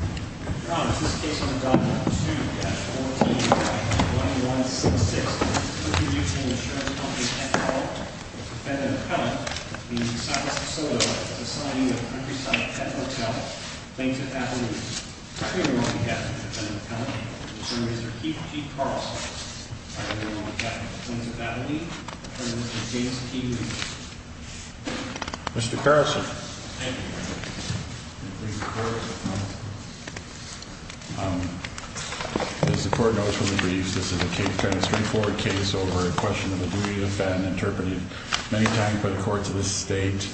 Mr. Thomas, this case on document 2-14-1166, Country Mutual Insurance Company, Petco, defendant-appellant, the Cypress Soto Society of Countryside Pet Hotel, Plains of Abilene. Attorney on behalf of the defendant-appellant, Mr. Keith Carlson. Attorney on behalf of Plains of Abilene, Attorney Mr. James P. Williams. Mr. Carlson. As the court notes from the briefs, this is a straightforward case over a question of a duty to defend, interpreted many times by the courts of this state,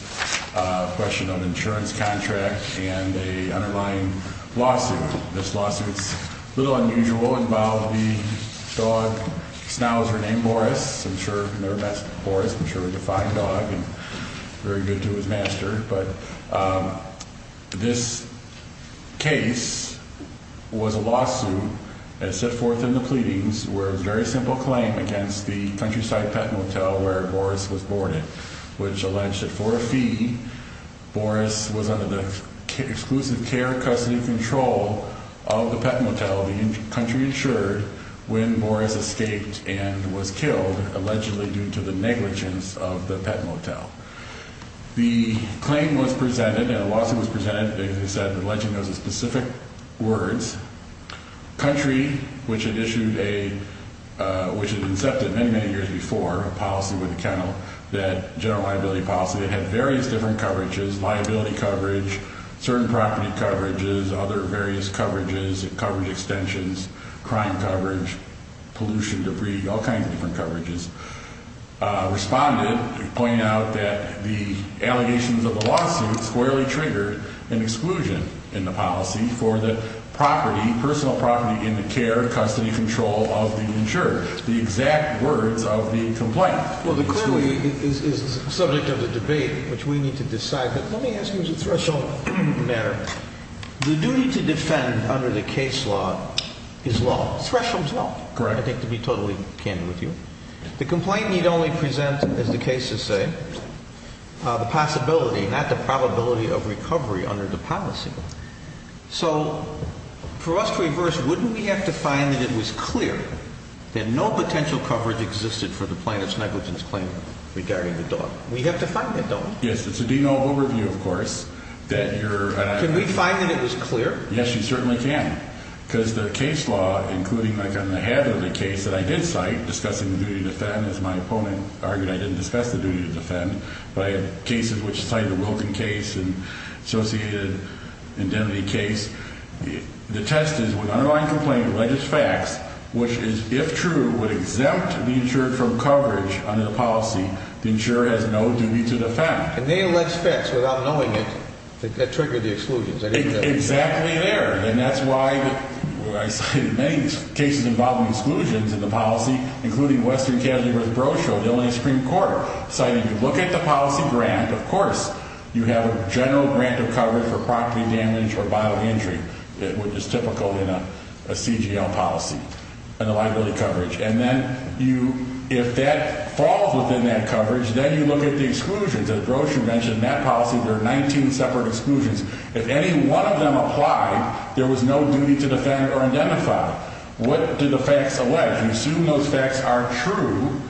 a question of insurance contract and an underlying lawsuit. This lawsuit is a little unusual. Involved the dog, Snowser, named Boris. I'm sure you've never met Boris. I'm sure he's a fine dog and very good to his master. But this case was a lawsuit that set forth in the pleadings where it was a very simple claim against the Countryside Pet Motel where Boris was born in, which alleged that for a fee, Boris was under the exclusive care of custody control of the pet motel, the country insured, when Boris escaped and was killed, allegedly due to the negligence of the pet motel. The claim was presented and the lawsuit was presented, as I said, alleging those are specific words. Country, which had issued a, which had incepted many, many years before a policy with the kennel, that general liability policy, that had various different coverages, liability coverage, certain property coverages, other various coverages, coverage extensions, crime coverage, pollution, debris, all kinds of different coverages, responded, pointing out that the allegations of the lawsuit squarely triggered an exclusion in the policy for the property, personal property in the care of custody control of the insurer. The exact words of the complaint. Well, the clearly is the subject of the debate, which we need to decide, but let me ask you as a threshold matter. The duty to defend under the case law is law. Thresholds law. Correct. I think to be totally candid with you. The complaint need only present, as the cases say, the possibility, not the probability of recovery under the policy. So for us to reverse, wouldn't we have to find that it was clear that no potential coverage existed for the plaintiff's negligence claim regarding the dog? We have to find it, don't we? Yes, it's a denial of overview, of course, that you're. Can we find that it was clear? Yes, you certainly can, because the case law, including like on the head of the case that I did cite discussing the duty to defend, as my opponent argued, I didn't discuss the duty to defend, but I had cases which cited the Wilken case and associated. Indemnity case. The test is with underlying complaint of legis facts, which is, if true, would exempt the insured from coverage under the policy. The insurer has no duty to defend and they let's fix without knowing it. That triggered the exclusions exactly there. And that's why I cited many cases involving exclusions in the policy, including Western Casualty vs. Brochure, the only Supreme Court citing. You look at the policy grant. Of course, you have a general grant of coverage for property damage or bodily injury, which is typical in a CGL policy and the liability coverage. And then you, if that falls within that coverage, then you look at the exclusions. As Brochure mentioned, in that policy, there are 19 separate exclusions. If any one of them applied, there was no duty to defend or identify. What do the facts allege? We assume those facts are true.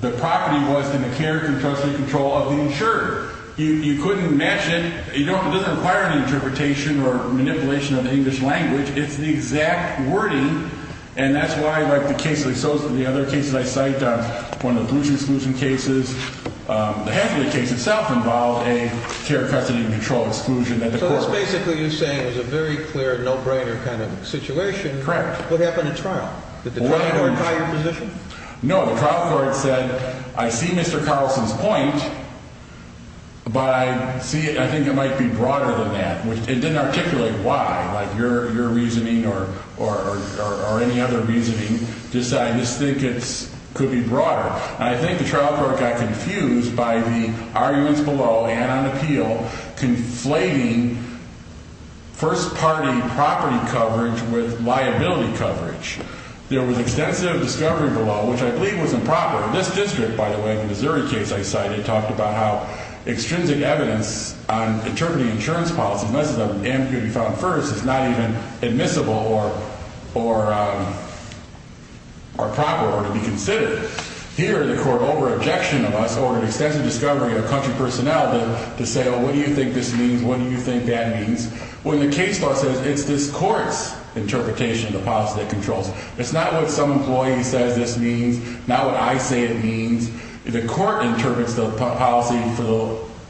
The property was in the care, trust and control of the insurer. You couldn't match it. It doesn't require any interpretation or manipulation of the English language. It's the exact wording. And that's why, like the cases associated with the other cases I cited on one of the exclusion cases, half of the case itself involved a care, custody and control exclusion. So it's basically you're saying it was a very clear no-brainer kind of situation. Correct. What happened at trial? Did the trial court try your position? The trial court tried to determine whether or not it was a case of being first-party property coverage with liability coverage. There was extensive discovery below, which I believe was improper. This district, by the way, the Missouri case I cited, talked about how extrinsic evidence on interpreting insurance policy, unless it's an amnesty to be filed first, is not even admissible or proper or to be considered. Here, the court, over objection of us, over an extensive discovery of country personnel, to say, oh, what do you think this means? What do you think that means? Well, the case law says it's this court's interpretation of the policy that controls it. It's not what some employee says this means, not what I say it means. The court interprets the policy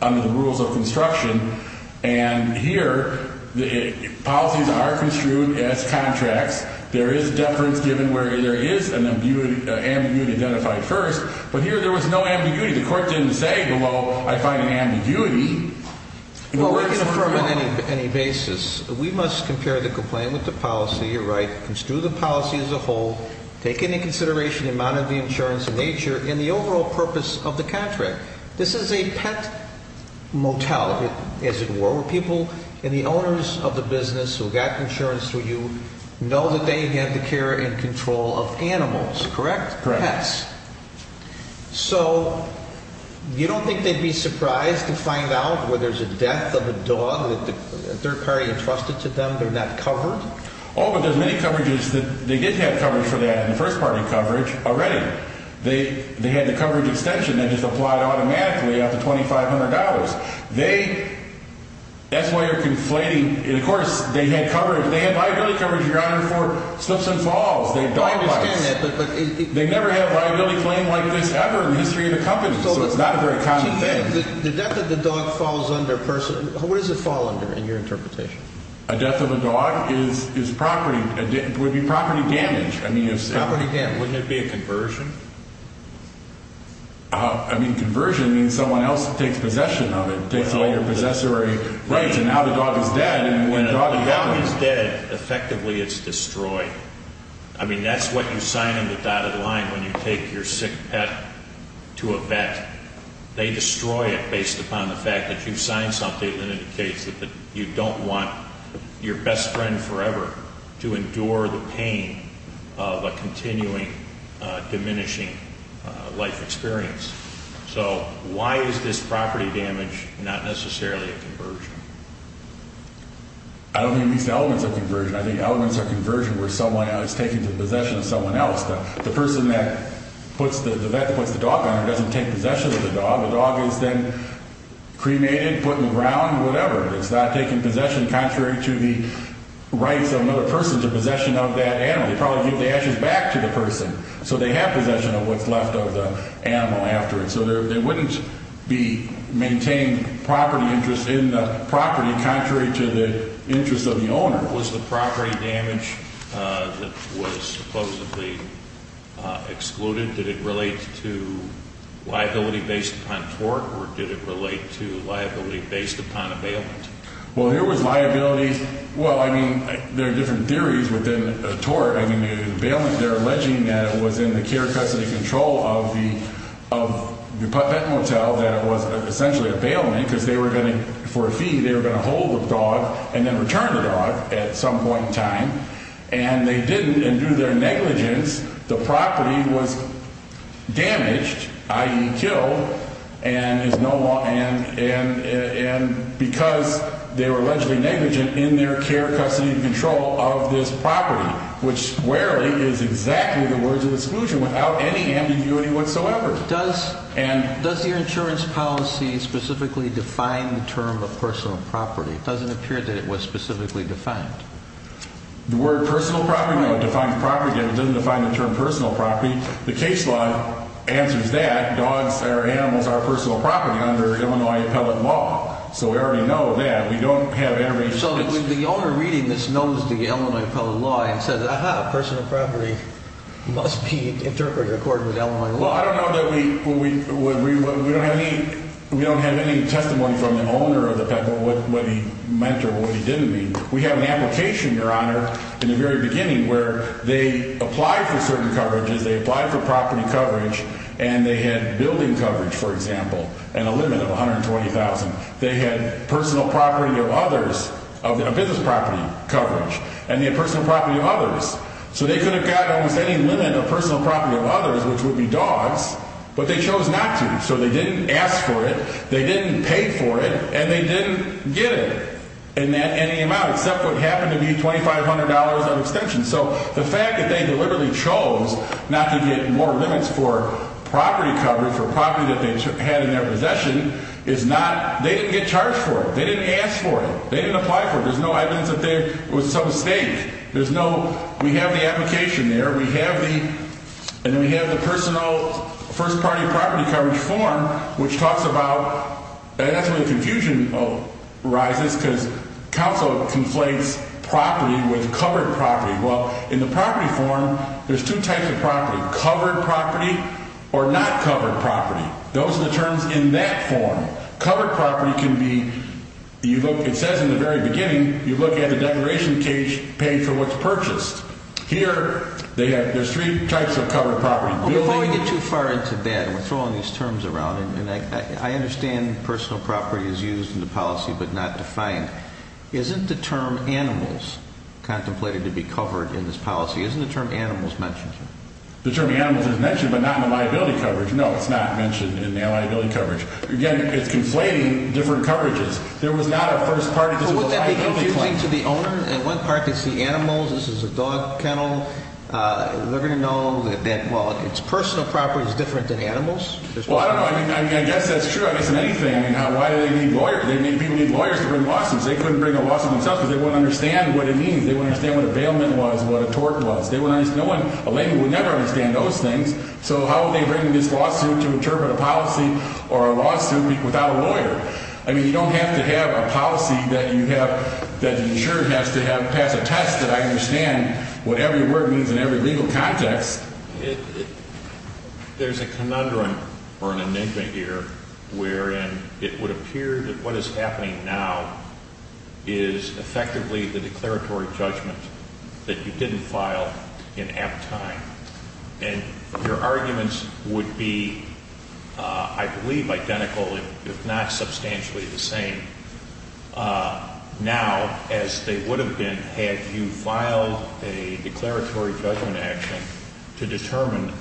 under the rules of construction. And here, policies are construed as contracts. There is deference given where there is an ambiguity identified first. But here there was no ambiguity. The court didn't say, well, I find an ambiguity. Well, we can affirm on any basis. We must compare the complaint with the policy, you're right, construe the policy as a whole, take into consideration the amount of the insurance in nature, and the overall purpose of the contract. This is a pet motel, as it were, where people and the owners of the business who got insurance through you know that they have the care and control of animals, correct? Correct. So you don't think they'd be surprised to find out where there's a death of a dog that a third party entrusted to them, they're not covered? Oh, but there's many coverages that they did have coverage for that in the first party coverage already. They had the coverage extension that is applied automatically up to $2,500. They, that's why you're conflating, of course, they had coverage, they had liability coverage, Your Honor, for slips and falls, they had dog bites. I understand that, but... They never had a liability claim like this ever in the history of the company, so it's not a very common thing. The death of the dog falls under personal, what does it fall under in your interpretation? A death of a dog is property, would be property damage. Property damage, wouldn't it be a conversion? I mean, conversion means someone else takes possession of it, takes all your possessory rights, and now the dog is dead, and when the dog is dead... I mean, that's what you sign on the dotted line when you take your sick pet to a vet. They destroy it based upon the fact that you've signed something that indicates that you don't want your best friend forever to endure the pain of a continuing, diminishing life experience. So, why is this property damage not necessarily a conversion? I don't think it meets the elements of conversion. I think elements of conversion were someone else taking possession of someone else. The person that puts the... the vet that puts the dog on her doesn't take possession of the dog. The dog is then cremated, put in the ground, whatever. It's not taking possession contrary to the rights of another person to possession of that animal. They probably give the ashes back to the person, so they have possession of what's left of the animal afterwards. So, there wouldn't be maintained property interest in the property contrary to the interest of the owner. Was the property damage that was supposedly excluded, did it relate to liability based upon tort, or did it relate to liability based upon a bailment? Well, here was liability. Well, I mean, there are different theories within tort. I mean, in bailment, they're alleging that it was in the care custody control of the vet motel that it was essentially a bailment because they were going to... for a fee, they were going to hold the dog and then return the dog at some point in time. And they didn't, and due to their negligence, the property was damaged, i.e. killed, and is no longer... and because they were allegedly negligent in their care custody control of this property, which rarely is exactly the words of exclusion without any ambiguity whatsoever. Does your insurance policy specifically define the term of personal property? It doesn't appear that it was specifically defined. The word personal property, no, it defines property, but it doesn't define the term personal property. The case law answers that. Dogs are animals are personal property under Illinois appellate law, so we already know that. We don't have every... So the owner reading this knows the Illinois appellate law and says, Aha, personal property must be interpreted according to Illinois law. Well, I don't know that we... We don't have any testimony from the owner of the pet, what he meant or what he didn't mean. We have an application, Your Honor, in the very beginning where they applied for certain coverages, they applied for property coverage, and they had building coverage, for example, and a limit of $120,000. They had personal property of others, business property coverage, and they had personal property of others. So they could have got almost any limit of personal property of others, which would be dogs, but they chose not to. So they didn't ask for it, they didn't pay for it, and they didn't get it in any amount, except what happened to be $2,500 of extension. So the fact that they deliberately chose not to get more limits for property coverage, for property that they had in their possession, is not... They didn't get charged for it. They didn't ask for it. They didn't apply for it. There's no evidence that there was some mistake. There's no... And then we have the personal first-party property coverage form, which talks about... That's where the confusion arises, because counsel conflates property with covered property. Well, in the property form, there's two types of property, covered property or not covered property. Those are the terms in that form. Covered property can be... It says in the very beginning, you look at the declaration page for what's purchased. Here, there's three types of covered property. Before we get too far into that, and we're throwing these terms around, and I understand personal property is used in the policy but not defined. Isn't the term animals contemplated to be covered in this policy? Isn't the term animals mentioned here? The term animals is mentioned, but not in the liability coverage. No, it's not mentioned in the liability coverage. Again, it's conflating different coverages. There was not a first-party... Wouldn't that be confusing to the owner? In one part, they see animals. This is a dog kennel. They're going to know that, well, it's personal property is different than animals. Well, I don't know. I mean, I guess that's true. I guess in anything. I mean, why do they need lawyers? People need lawyers to bring lawsuits. They couldn't bring a lawsuit themselves because they wouldn't understand what it means. They wouldn't understand what a bailment was, what a tort was. They wouldn't understand. So how would they bring this lawsuit to interpret a policy or a lawsuit without a lawyer? I mean, you don't have to have a policy that you have... that the insurer has to have pass a test that I understand what every word means in every legal context. There's a conundrum or an enigma here wherein it would appear that what is happening now is effectively the declaratory judgment that you didn't file in apt time. And your arguments would be, I believe, identical, if not substantially the same. Now, as they would have been had you filed a declaratory judgment action to determine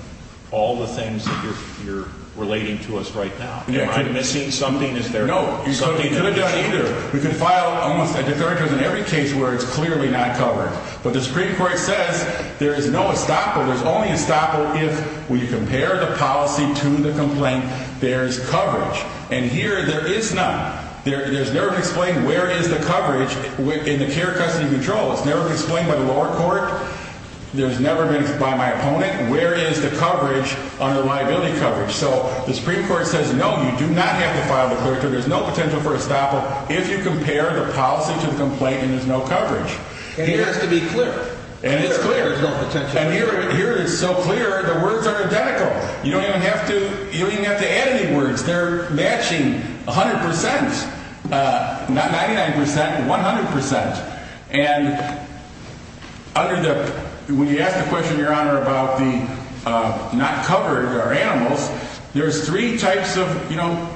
all the things that you're relating to us right now. Am I missing something? No, you couldn't have done either. We could file almost a declaratory judgment in every case where it's clearly not covered. But the Supreme Court says there is no estoppel. There's only estoppel if, when you compare the policy to the complaint, there's coverage. And here, there is none. There's never been explained where is the coverage in the care custody control. It's never been explained by the lower court. There's never been explained by my opponent. Where is the coverage under liability coverage? So the Supreme Court says, no, you do not have to file the declaratory. There's no potential for estoppel if you compare the policy to the complaint and there's no coverage. And it has to be clear. And it's clear. There's no potential. And here it is so clear, the words are identical. You don't even have to add any words. They're matching 100 percent, not 99 percent, 100 percent. And under the, when you ask the question, Your Honor, about the not covered or animals, there's three types of, you know,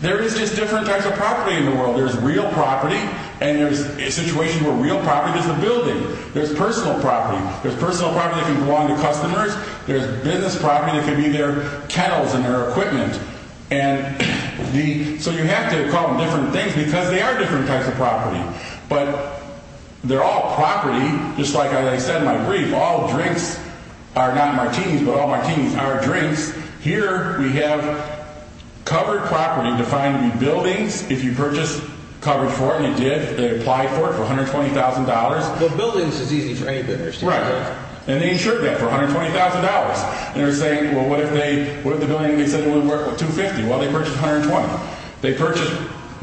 there is just different types of property in the world. There's real property and there's a situation where real property is the building. There's personal property. There's personal property that can belong to customers. There's business property that can be their kettles and their equipment. And the, so you have to call them different things because they are different types of property. But they're all property. Just like I said in my brief, all drinks are not martinis, but all martinis are drinks. Here we have covered property defined in buildings. If you purchase covered for it, and you did, they apply for it for $120,000. The buildings is easy for any business. Right. And they insured that for $120,000. And they're saying, well, what if they, what if the building they said it would work with $250,000? Well, they purchased $120,000. They purchased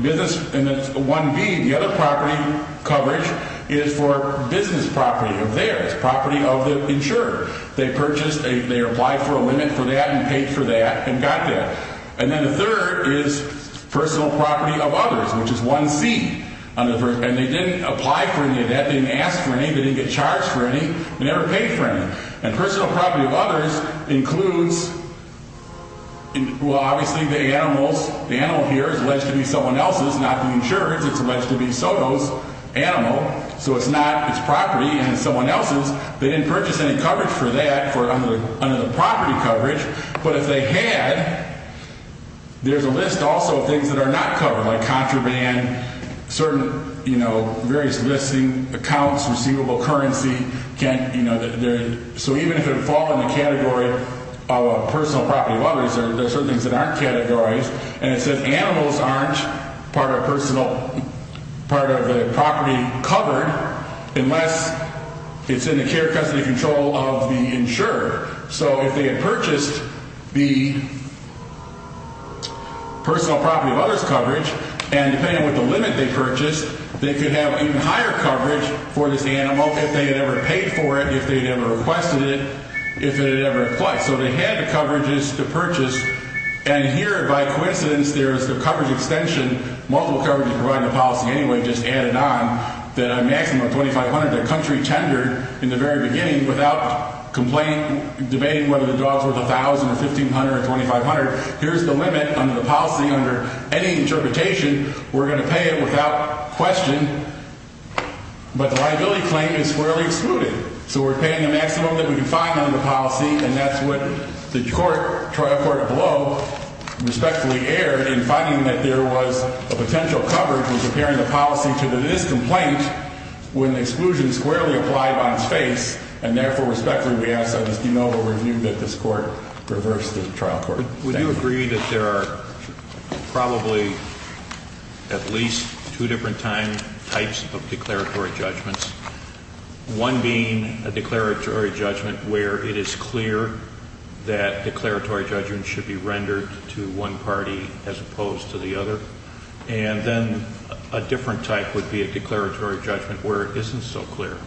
business, and it's a 1B. The other property coverage is for business property of theirs, property of the insurer. They purchased, they applied for a limit for that and paid for that and got that. And then the third is personal property of others, which is 1C. And they didn't apply for any of that. They didn't ask for any. They didn't get charged for any. They never paid for any. And personal property of others includes, well, obviously the animals, the animal here is alleged to be someone else's, not the insurer's. It's alleged to be Soto's animal. So it's not its property, and it's someone else's. They didn't purchase any coverage for that under the property coverage. But if they had, there's a list also of things that are not covered, like contraband, certain, you know, various listing accounts, receivable currency. So even if it would fall in the category of a personal property of others, there are certain things that aren't categorized. And it says animals aren't part of personal, part of the property covered unless it's in the care custody control of the insurer. So if they had purchased the personal property of others coverage, and depending on what the limit they purchased, they could have even higher coverage for this animal if they had ever paid for it, if they had ever requested it, if they had ever applied. So they had the coverages to purchase. And here, by coincidence, there is the coverage extension, multiple coverages provided in the policy anyway, just added on, that a maximum of $2,500 that a country tendered in the very beginning without complaining, debating whether the dog's worth $1,000 or $1,500 or $2,500. Here's the limit under the policy under any interpretation. We're going to pay it without question. But the liability claim is squarely excluded. So we're paying the maximum that we can find under the policy, and that's what the trial court below respectfully erred in finding that there was a potential coverage in comparing the policy to this complaint when the exclusion squarely applied on its face. And therefore, respectfully, we ask that this do not be reviewed, that this court reverse the trial court. Would you agree that there are probably at least two different types of declaratory judgments? One being a declaratory judgment where it is clear that declaratory judgments should be rendered to one party as opposed to the other. And then a different type would be a declaratory judgment where it isn't so clear.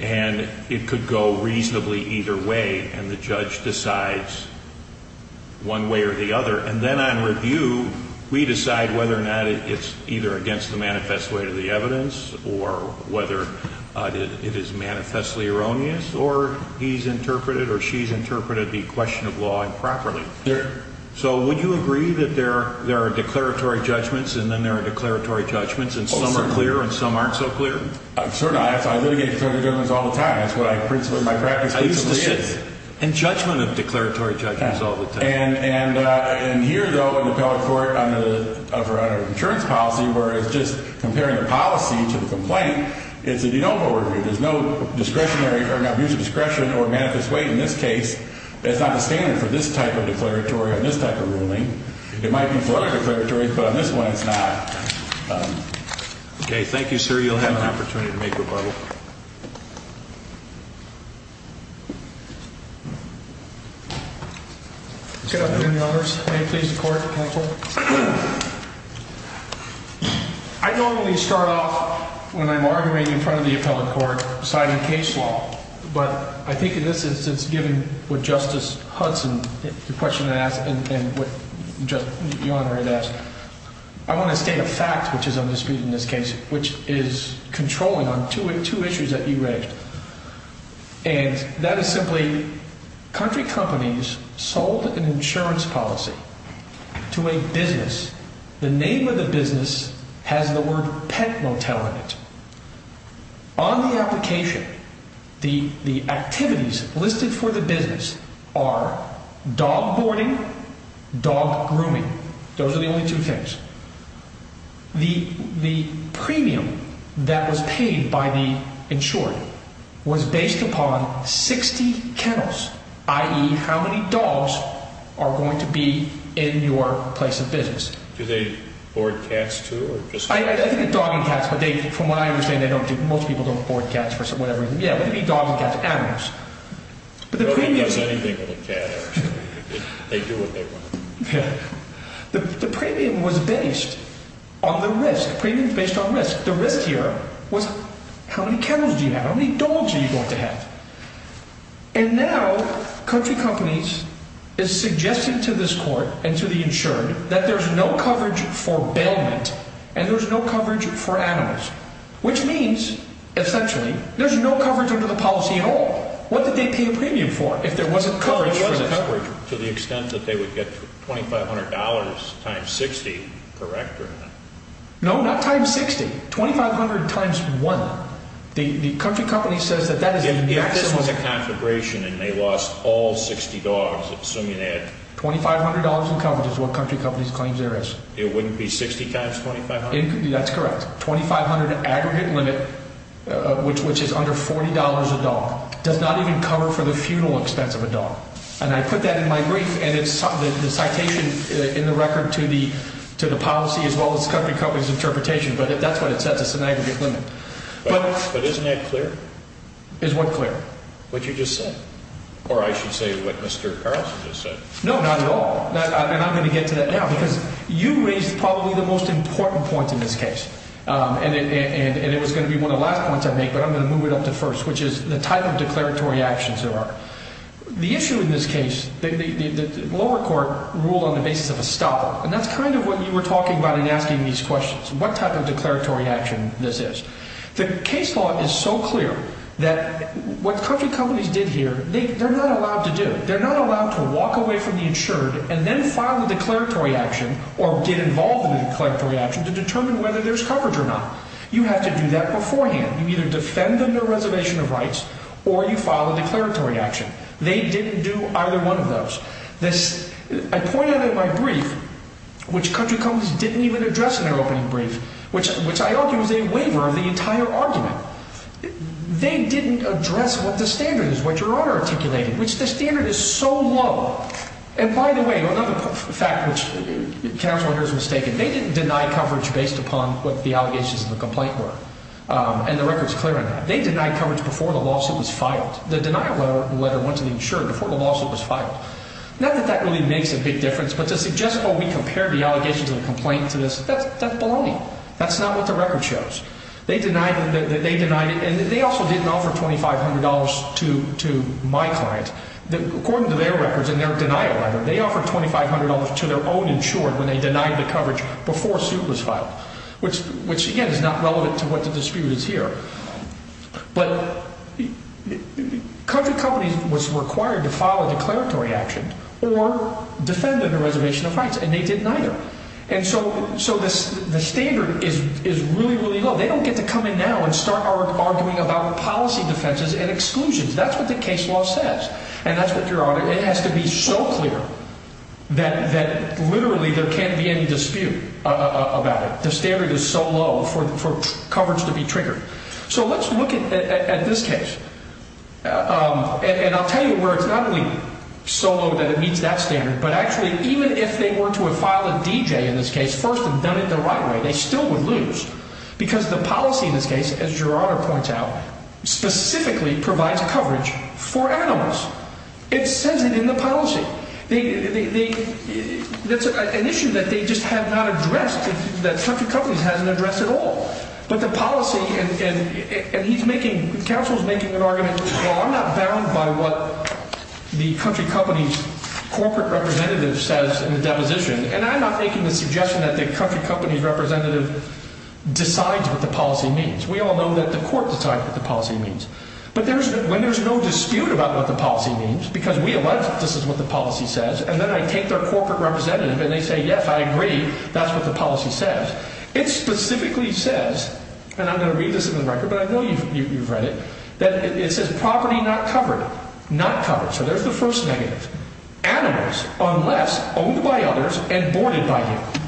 And it could go reasonably either way, and the judge decides one way or the other. And then on review, we decide whether or not it's either against the manifest way of the evidence or whether it is manifestly erroneous, or he's interpreted or she's interpreted the question of law improperly. So would you agree that there are declaratory judgments and then there are declaratory judgments and some are clear and some aren't so clear? Certainly not. I litigate declaratory judgments all the time. That's what my practice basically is. And judgment of declaratory judgments all the time. And here, though, in the appellate court under insurance policy where it's just comparing the policy to the complaint, it's a de novo review. There's no discretionary or an abuse of discretion or manifest way in this case. It's not the standard for this type of declaratory on this type of ruling. It might be for other declaratories, but on this one, it's not. OK, thank you, sir. You'll have an opportunity to make rebuttal. Good afternoon, Your Honors. May it please the court, counsel. I normally start off when I'm arguing in front of the appellate court deciding case law, but I think in this instance, given what Justice Hudson, the question I asked, and what Your Honor had asked, I want to state a fact which is on dispute in this case, which is controlling on two issues that you raised. And that is simply country companies sold an insurance policy to a business. The name of the business has the word pet motel in it. On the application, the activities listed for the business are dog boarding, dog grooming. Those are the only two things. The premium that was paid by the insurer was based upon 60 kennels, i.e., how many dogs are going to be in your place of business. Do they board cats, too? I think the dog and cats, but from what I understand, most people don't board cats for whatever reason. Yeah, but it would be dogs and cats, animals. Nobody does anything with a cat, actually. They do what they want. Yeah. The premium was based on the risk. The premium is based on risk. The risk here was how many kennels do you have? How many dogs are you going to have? And now country companies is suggesting to this court and to the insured that there's no coverage for bailment and there's no coverage for animals, which means, essentially, there's no coverage under the policy at all. What did they pay a premium for if there wasn't coverage for the coverage? To the extent that they would get $2,500 times 60, correct? No, not times 60. 2,500 times 1. The country company says that that is the maximum. If this was a conflagration and they lost all 60 dogs, assuming they had... $2,500 in coverage is what country companies claims there is. It wouldn't be 60 times 2,500? That's correct. 2,500 aggregate limit, which is under $40 a dog, does not even cover for the funeral expense of a dog. And I put that in my brief, and it's the citation in the record to the policy as well as country companies' interpretation, but that's what it says. It's an aggregate limit. But isn't that clear? Is what clear? What you just said. Or I should say what Mr. Carlson just said. No, not at all. And I'm going to get to that now because you raised probably the most important point in this case, and it was going to be one of the last points I make, but I'm going to move it up to first, which is the type of declaratory actions there are. The issue in this case, the lower court ruled on the basis of a stopper, and that's kind of what you were talking about in asking these questions, what type of declaratory action this is. The case law is so clear that what country companies did here, they're not allowed to do. and then file a declaratory action or get involved in a declaratory action to determine whether there's coverage or not. You have to do that beforehand. You either defend them their reservation of rights or you file a declaratory action. They didn't do either one of those. I pointed out in my brief, which country companies didn't even address in their opening brief, which I argue is a waiver of the entire argument. They didn't address what the standard is, what your order articulated, which the standard is so low. And by the way, another fact which counsel here has mistaken, they didn't deny coverage based upon what the allegations of the complaint were, and the record's clear on that. They denied coverage before the lawsuit was filed. The denial letter went to the insurer before the lawsuit was filed. Not that that really makes a big difference, but to suggest, oh, we compared the allegations of the complaint to this, that's baloney. That's not what the record shows. They denied it, and they also didn't offer $2,500 to my client. According to their records in their denial letter, they offered $2,500 to their own insurer when they denied the coverage before suit was filed, which, again, is not relevant to what the dispute is here. But country companies was required to file a declaratory action or defend them their reservation of rights, and they didn't either. And so the standard is really, really low. They don't get to come in now and start arguing about policy defenses and exclusions. That's what the case law says, and that's what your honor, it has to be so clear that literally there can't be any dispute about it. The standard is so low for coverage to be triggered. So let's look at this case, and I'll tell you where it's not only so low that it meets that standard, but actually even if they were to have filed a DJ in this case first and done it the right way, they still would lose because the policy in this case, as your honor points out, specifically provides coverage for animals. It says it in the policy. That's an issue that they just have not addressed, that country companies hasn't addressed at all. But the policy, and he's making, the counsel's making an argument, well, I'm not bound by what the country company's corporate representative says in the deposition, and I'm not making the suggestion that the country company's representative decides what the policy means. We all know that the court decides what the policy means. But when there's no dispute about what the policy means, because we allege that this is what the policy says, and then I take their corporate representative and they say, yes, I agree, that's what the policy says, it specifically says, and I'm going to read this in the record, but I know you've read it, that it says property not covered, not covered. So there's the first negative. Animals, unless owned by others and boarded by you.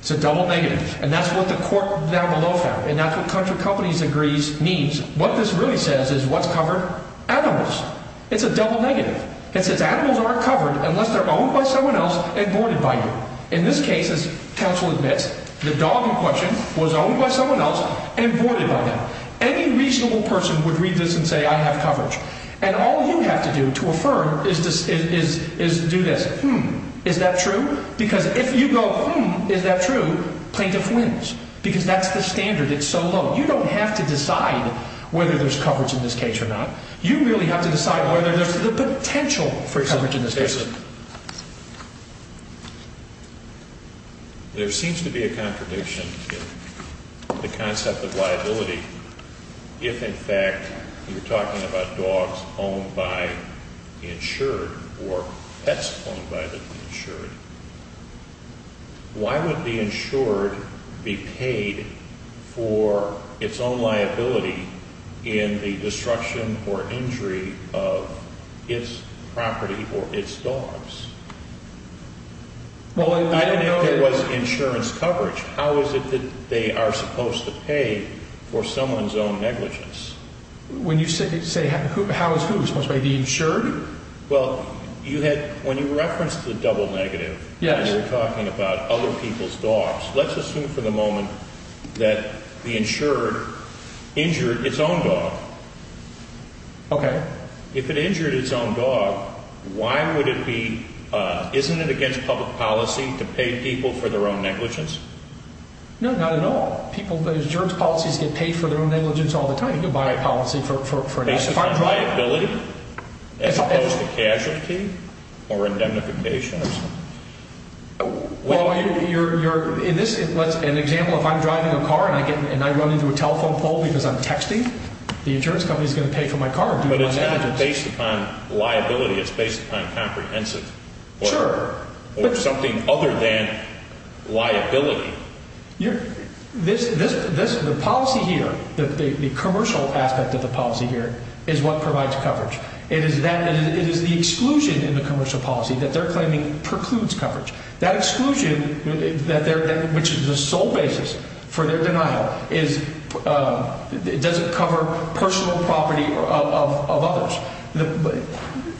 It's a double negative, and that's what the court down below found, and that's what country companies agrees means. What this really says is what's covered? Animals. It's a double negative. It says animals aren't covered unless they're owned by someone else and boarded by you. In this case, as counsel admits, the dog in question was owned by someone else and boarded by them. Any reasonable person would read this and say, I have coverage. And all you have to do to affirm is do this, hmm, is that true? Because if you go, hmm, is that true? Because that's the standard. It's so low. You don't have to decide whether there's coverage in this case or not. You really have to decide whether there's the potential for coverage in this case. There seems to be a contradiction to the concept of liability if, in fact, you're talking about dogs owned by the insured or pets owned by the insured. Why would the insured be paid for its own liability in the destruction or injury of its property or its dogs? Well, I don't know if there was insurance coverage. How is it that they are supposed to pay for someone's own negligence? When you say how is who supposed to pay, the insured? Well, when you referenced the double negative and you were talking about other people's dogs, let's assume for the moment that the insured injured its own dog. If it injured its own dog, isn't it against public policy to pay people for their own negligence? No, not at all. People's insurance policies get paid for their own negligence all the time. You can buy a policy for an accident. Is it based on liability as opposed to casualty or indemnification or something? In this example, if I'm driving a car and I run into a telephone pole because I'm texting, the insurance company is going to pay for my car due to my negligence. But it's not based upon liability. It's based upon comprehensive. Sure. Or something other than liability. The policy here, the commercial aspect of the policy here, is what provides coverage. It is the exclusion in the commercial policy that they're claiming precludes coverage. That exclusion, which is the sole basis for their denial, doesn't cover personal property of others.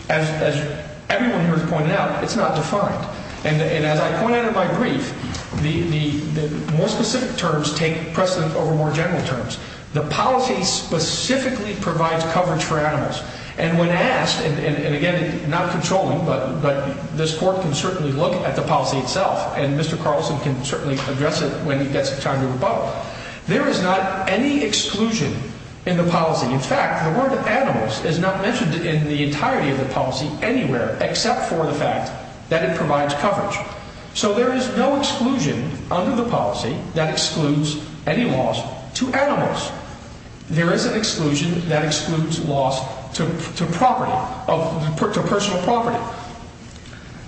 As everyone here has pointed out, it's not defined. And as I pointed out in my brief, the more specific terms take precedence over more general terms. The policy specifically provides coverage for animals. And when asked, and again, not controlling, but this court can certainly look at the policy itself, and Mr. Carlson can certainly address it when he gets time to rebut, there is not any exclusion in the policy. In fact, the word animals is not mentioned in the entirety of the policy anywhere, except for the fact that it provides coverage. So there is no exclusion under the policy that excludes any loss to animals. There is an exclusion that excludes loss to personal property.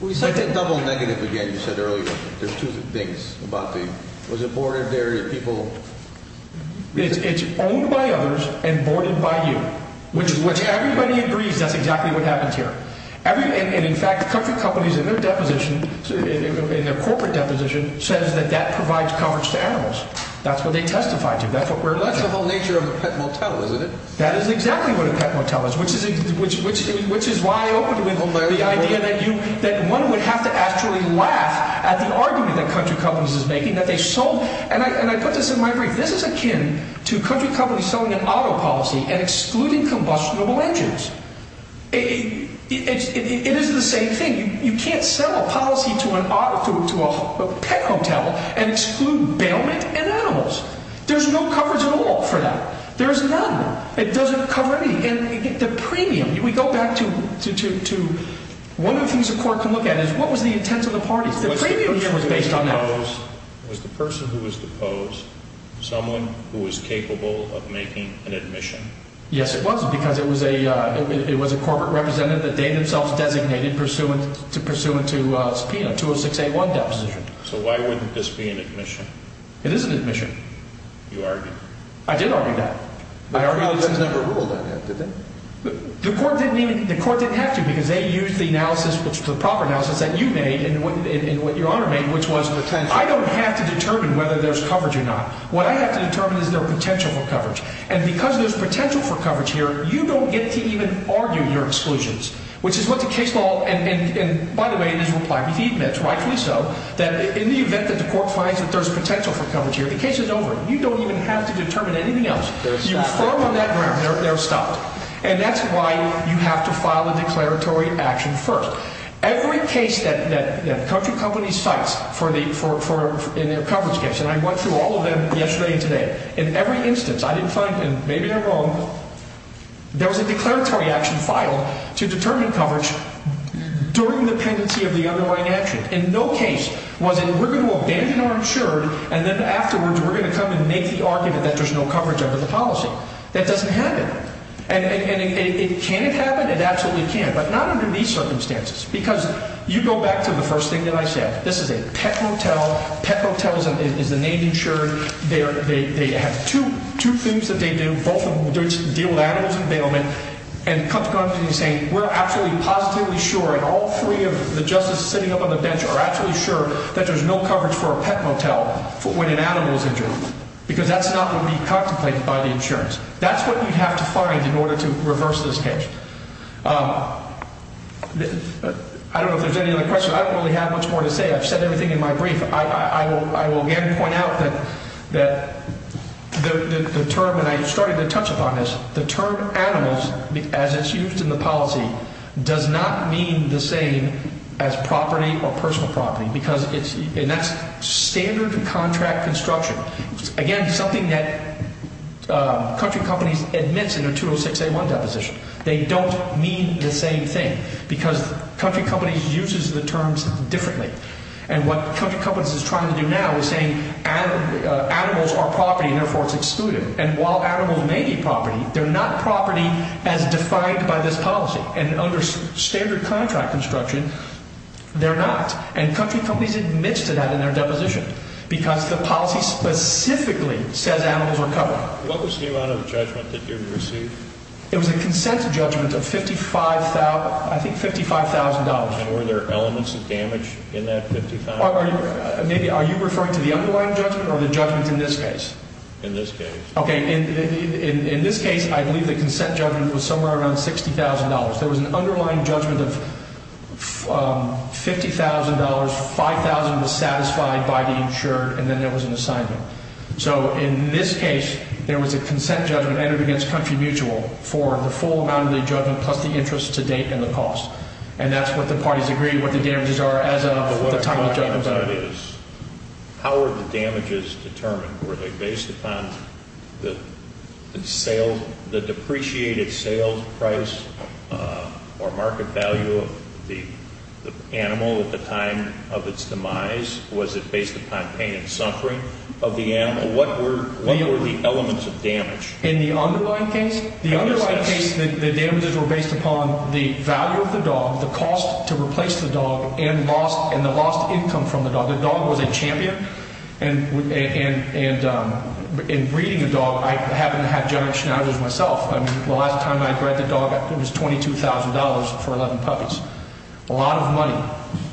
Let's double negative again, you said earlier. There's two things about the, was it boarded there, your people? It's owned by others and boarded by you, which everybody agrees that's exactly what happened here. And in fact, country companies in their deposition, in their corporate deposition, says that that provides coverage to animals. That's what they testified to, that's what we're alleging. That's the whole nature of the pet motel, isn't it? That is exactly what a pet motel is, which is why I opened with the idea that you, that one would have to actually laugh at the argument that country companies is making, that they sold, and I put this in my brief, this is akin to country companies selling an auto policy and excluding combustible engines. It is the same thing. You can't sell a policy to an auto, to a pet motel and exclude bailment and animals. There's no coverage at all for that. There is none. It doesn't cover anything. And the premium, we go back to, one of the things the court can look at is what was the intent of the parties. The premium was based on that. Was the person who was deposed someone who was capable of making an admission? Yes, it was, because it was a corporate representative that they themselves designated pursuant to a 20681 deposition. So why wouldn't this be an admission? It is an admission. You argued. I did argue that. The court didn't have to because they used the proper analysis that you made and what Your Honor made, which was I don't have to determine whether there's coverage or not. What I have to determine is there's potential for coverage. And because there's potential for coverage here, you don't get to even argue your exclusions, which is what the case law, and by the way, it is required to admit, rightfully so, that in the event that the court finds that there's potential for coverage here, the case is over. You don't even have to determine anything else. You affirm on that ground they're stopped. And that's why you have to file a declaratory action first. Every case that country companies cite in their coverage case, and I went through all of them yesterday and today, in every instance I didn't find, and maybe they're wrong, there was a declaratory action filed to determine coverage during the pendency of the underlying action. In no case was it we're going to abandon our insured and then afterwards we're going to come and make the argument that there's no coverage under the policy. That doesn't happen. And can it happen? It absolutely can. But not under these circumstances because you go back to the first thing that I said. This is a pet hotel. Pet hotels is the name insured. They have two things that they do. Both of them deal with animals and bailment. And country companies are saying we're absolutely positively sure and all three of the justices sitting up on the bench are absolutely sure that there's no coverage for a pet motel when an animal is injured. Because that's not what we contemplate by the insurance. That's what you have to find in order to reverse this case. I don't know if there's any other questions. I don't really have much more to say. I've said everything in my brief. I will again point out that the term, and I started to touch upon this, the term animals, as it's used in the policy, does not mean the same as property or personal property. And that's standard contract construction. Again, something that country companies admits in their 206A1 deposition. They don't mean the same thing because country companies uses the terms differently. And what country companies is trying to do now is saying animals are property and therefore it's excluded. And while animals may be property, they're not property as defined by this policy. And under standard contract construction, they're not. And country companies admit to that in their deposition because the policy specifically says animals are covered. What was the amount of judgment that you received? It was a consent judgment of $55,000, I think $55,000. And were there elements of damage in that $55,000? Are you referring to the underlying judgment or the judgment in this case? In this case. Okay. In this case, I believe the consent judgment was somewhere around $60,000. There was an underlying judgment of $50,000, $5,000 was satisfied by the insured, and then there was an assignment. So in this case, there was a consent judgment entered against country mutual for the full amount of the judgment plus the interest to date and the cost. And that's what the parties agree what the damages are as of the time of judgment. But what I'm trying to find out is how are the damages determined? Were they based upon the depreciated sales price or market value of the animal at the time of its demise? Was it based upon pain and suffering of the animal? What were the elements of damage? In the underlying case? In the underlying case, the damages were based upon the value of the dog, the cost to replace the dog, and the lost income from the dog. The dog was a champion. And in breeding a dog, I happened to have giant schnauzers myself. The last time I bred the dog, it was $22,000 for 11 puppies. A lot of money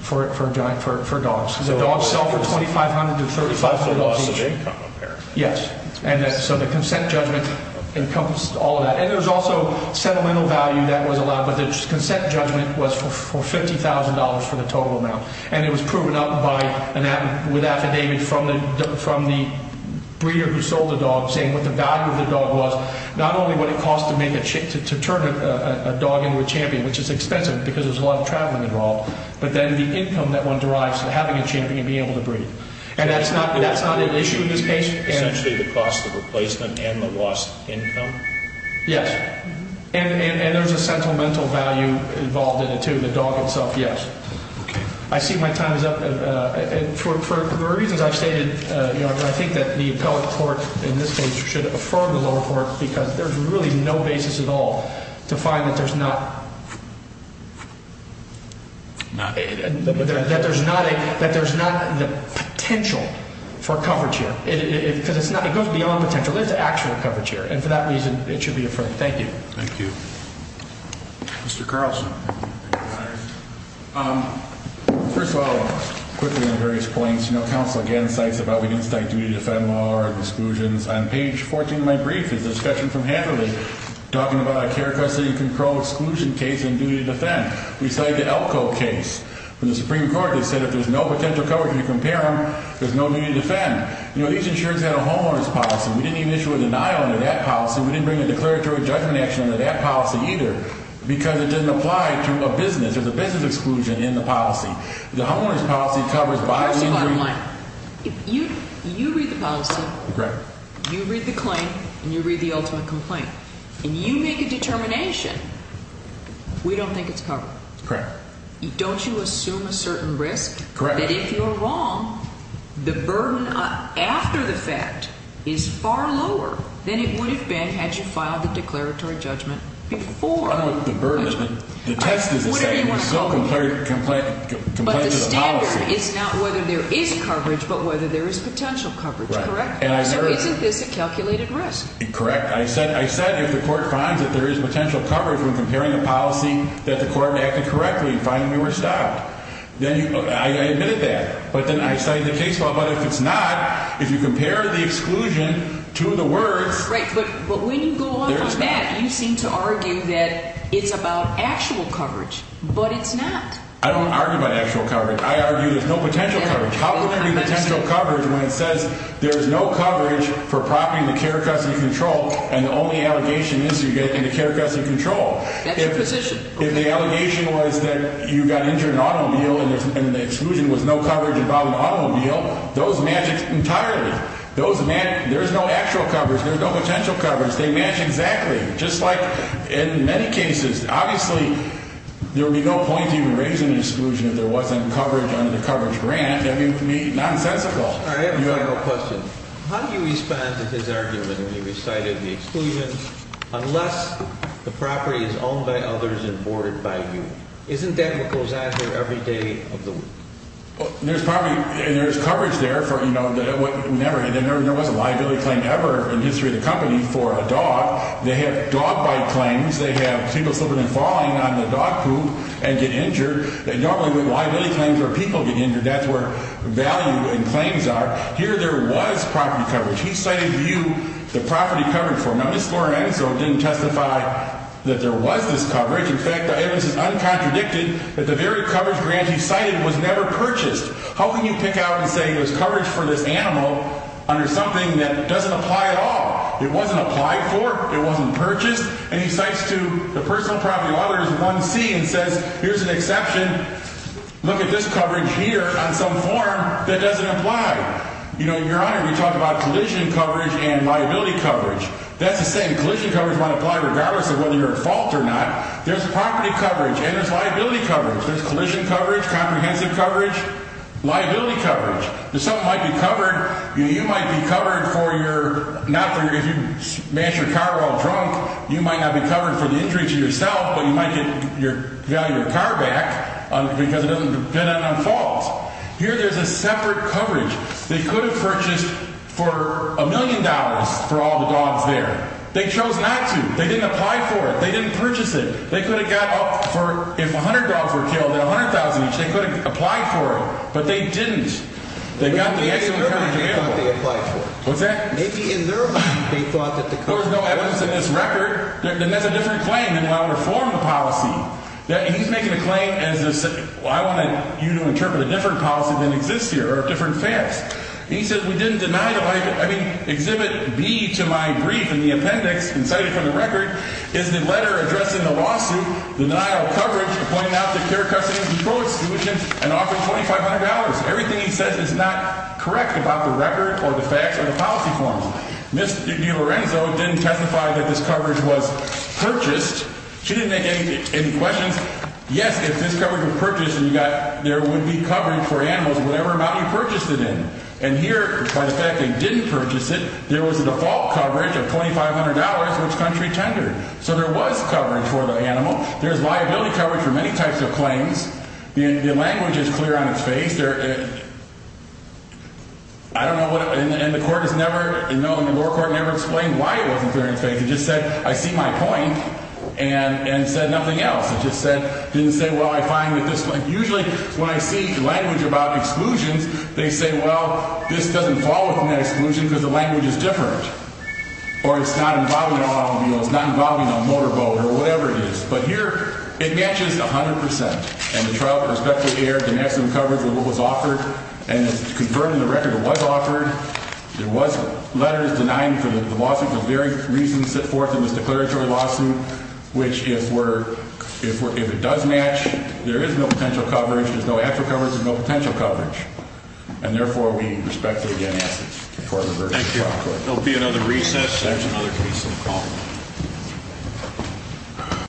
for dogs. The dogs sell for $2,500 to $3,500 each. The loss of income, apparently. Yes. So the consent judgment encompassed all of that. And there was also sentimental value that was allowed, but the consent judgment was for $50,000 for the total amount. And it was proven up with affidavit from the breeder who sold the dog saying what the value of the dog was, not only what it cost to turn a dog into a champion, which is expensive because there's a lot of traveling involved, but then the income that one derives from having a champion and being able to breed. And that's not an issue in this case. Essentially the cost of replacement and the lost income? Yes. And there's a sentimental value involved in it, too, the dog itself, yes. Okay. I see my time is up. For the reasons I've stated, I think that the appellate court in this case should affirm the lower court because there's really no basis at all to find that there's not the potential for coverage here. Because it goes beyond potential. There's actual coverage here. And for that reason, it should be affirmed. Thank you. Thank you. Mr. Carlson. First of all, quickly on various points, you know, counsel, again, cites about we didn't cite duty to defend law or exclusions. On page 14 of my brief is a discussion from Hanford talking about a care custody control exclusion case and duty to defend. We cited the Elko case. In the Supreme Court, they said if there's no potential coverage to compare them, there's no duty to defend. You know, these insurers had a homeowners policy. We didn't even issue a denial under that policy. We didn't bring a declaratory judgment action under that policy either because it doesn't apply to a business. There's a business exclusion in the policy. The homeowners policy covers by and great. First of all, if you read the policy, you read the claim, and you read the ultimate complaint, and you make a determination, we don't think it's covered. Correct. Don't you assume a certain risk that if you're wrong, the burden after the fact is far lower than it would have been had you filed the declaratory judgment before. I don't know what the burden is. The test is to say there's no complaint to the policy. But the standard is not whether there is coverage but whether there is potential coverage, correct? So isn't this a calculated risk? Correct. I said if the court finds that there is potential coverage when comparing a policy that the court acted correctly, finding we were stopped, then I admitted that. But if it's not, if you compare the exclusion to the words. Right. But when you go off on that, you seem to argue that it's about actual coverage. But it's not. I don't argue about actual coverage. I argue there's no potential coverage. How can there be potential coverage when it says there's no coverage for prompting the care, trust, and control, and the only allegation is to get into care, trust, and control? That's your position. If the allegation was that you got into an automobile and the exclusion was no coverage involving an automobile, those match entirely. There's no actual coverage. There's no potential coverage. They match exactly, just like in many cases. Obviously, there would be no point in raising the exclusion if there wasn't coverage under the coverage grant. That would be nonsensical. I have a final question. How do you respond to his argument when he recited the exclusion, unless the property is owned by others and boarded by you? Isn't that what goes on here every day of the week? There's probably, and there's coverage there for, you know, there never was a liability claim ever in the history of the company for a dog. They have dog bite claims. They have people slipping and falling on the dog poop and get injured. They don't have liability claims where people get injured. That's where value and claims are. Here there was property coverage. He cited you, the property coverage for him. Now, Mr. Lorenzo didn't testify that there was this coverage. In fact, the evidence is uncontradicted that the very coverage grant he cited was never purchased. How can you pick out and say there's coverage for this animal under something that doesn't apply at all? It wasn't applied for. It wasn't purchased. And he cites to the personal property lawyers 1C and says, here's an exception. Look at this coverage here on some form that doesn't apply. You know, Your Honor, we talk about collision coverage and liability coverage. That's the same. Collision coverage might apply regardless of whether you're at fault or not. There's property coverage and there's liability coverage. There's collision coverage, comprehensive coverage, liability coverage. There's something that might be covered. You might be covered for your not for your, if you smash your car while drunk, you might not be covered for the injury to yourself, but you might get your car back because it doesn't depend on fault. Here there's a separate coverage. They could have purchased for a million dollars for all the dogs there. They chose not to. They didn't apply for it. They didn't purchase it. They could have got up for, if 100 dogs were killed and 100,000 each, they could have applied for it. But they didn't. They got the excellent coverage of the animal. What's that? Maybe in their mind, they thought that the coverage. No, it wasn't in this record. Then that's a different claim than what I would have formed the policy. He's making a claim as I want you to interpret a different policy than exists here or different facts. He says we didn't deny the light. I mean, Exhibit B to my brief in the appendix and cited from the record is the letter addressing the lawsuit, the denial of coverage, pointing out the clear custody and pro-exclusion and offering $2,500. Everything he says is not correct about the record or the facts or the policy forms. Mr. DiLorenzo didn't testify that this coverage was purchased. She didn't make any questions. Yes, if this coverage was purchased and you got, there would be coverage for animals, whatever amount you purchased it in. And here, by the fact they didn't purchase it, there was a default coverage of $2,500, which country tendered. So there was coverage for the animal. There's liability coverage for many types of claims. The language is clear on its face. I don't know what, and the court has never, no, the lower court never explained why it wasn't clear on its face. It just said, I see my point and said nothing else. It just said, didn't say, well, I find that this, usually when I see language about exclusions, they say, well, this doesn't fall within that exclusion because the language is different. Or it's not involving an automobile. It's not involving a motorboat or whatever it is. But here, it matches 100%. And the trial perspective aired the maximum coverage of what was offered. And it's confirmed in the record it was offered. There was letters denying the lawsuit for various reasons set forth in this declaratory lawsuit, which if it does match, there is no potential coverage. There's no actual coverage. There's no potential coverage. And therefore, we respectfully, again, ask that the court reverse the trial. Thank you. There will be another recess. There's another case on the call.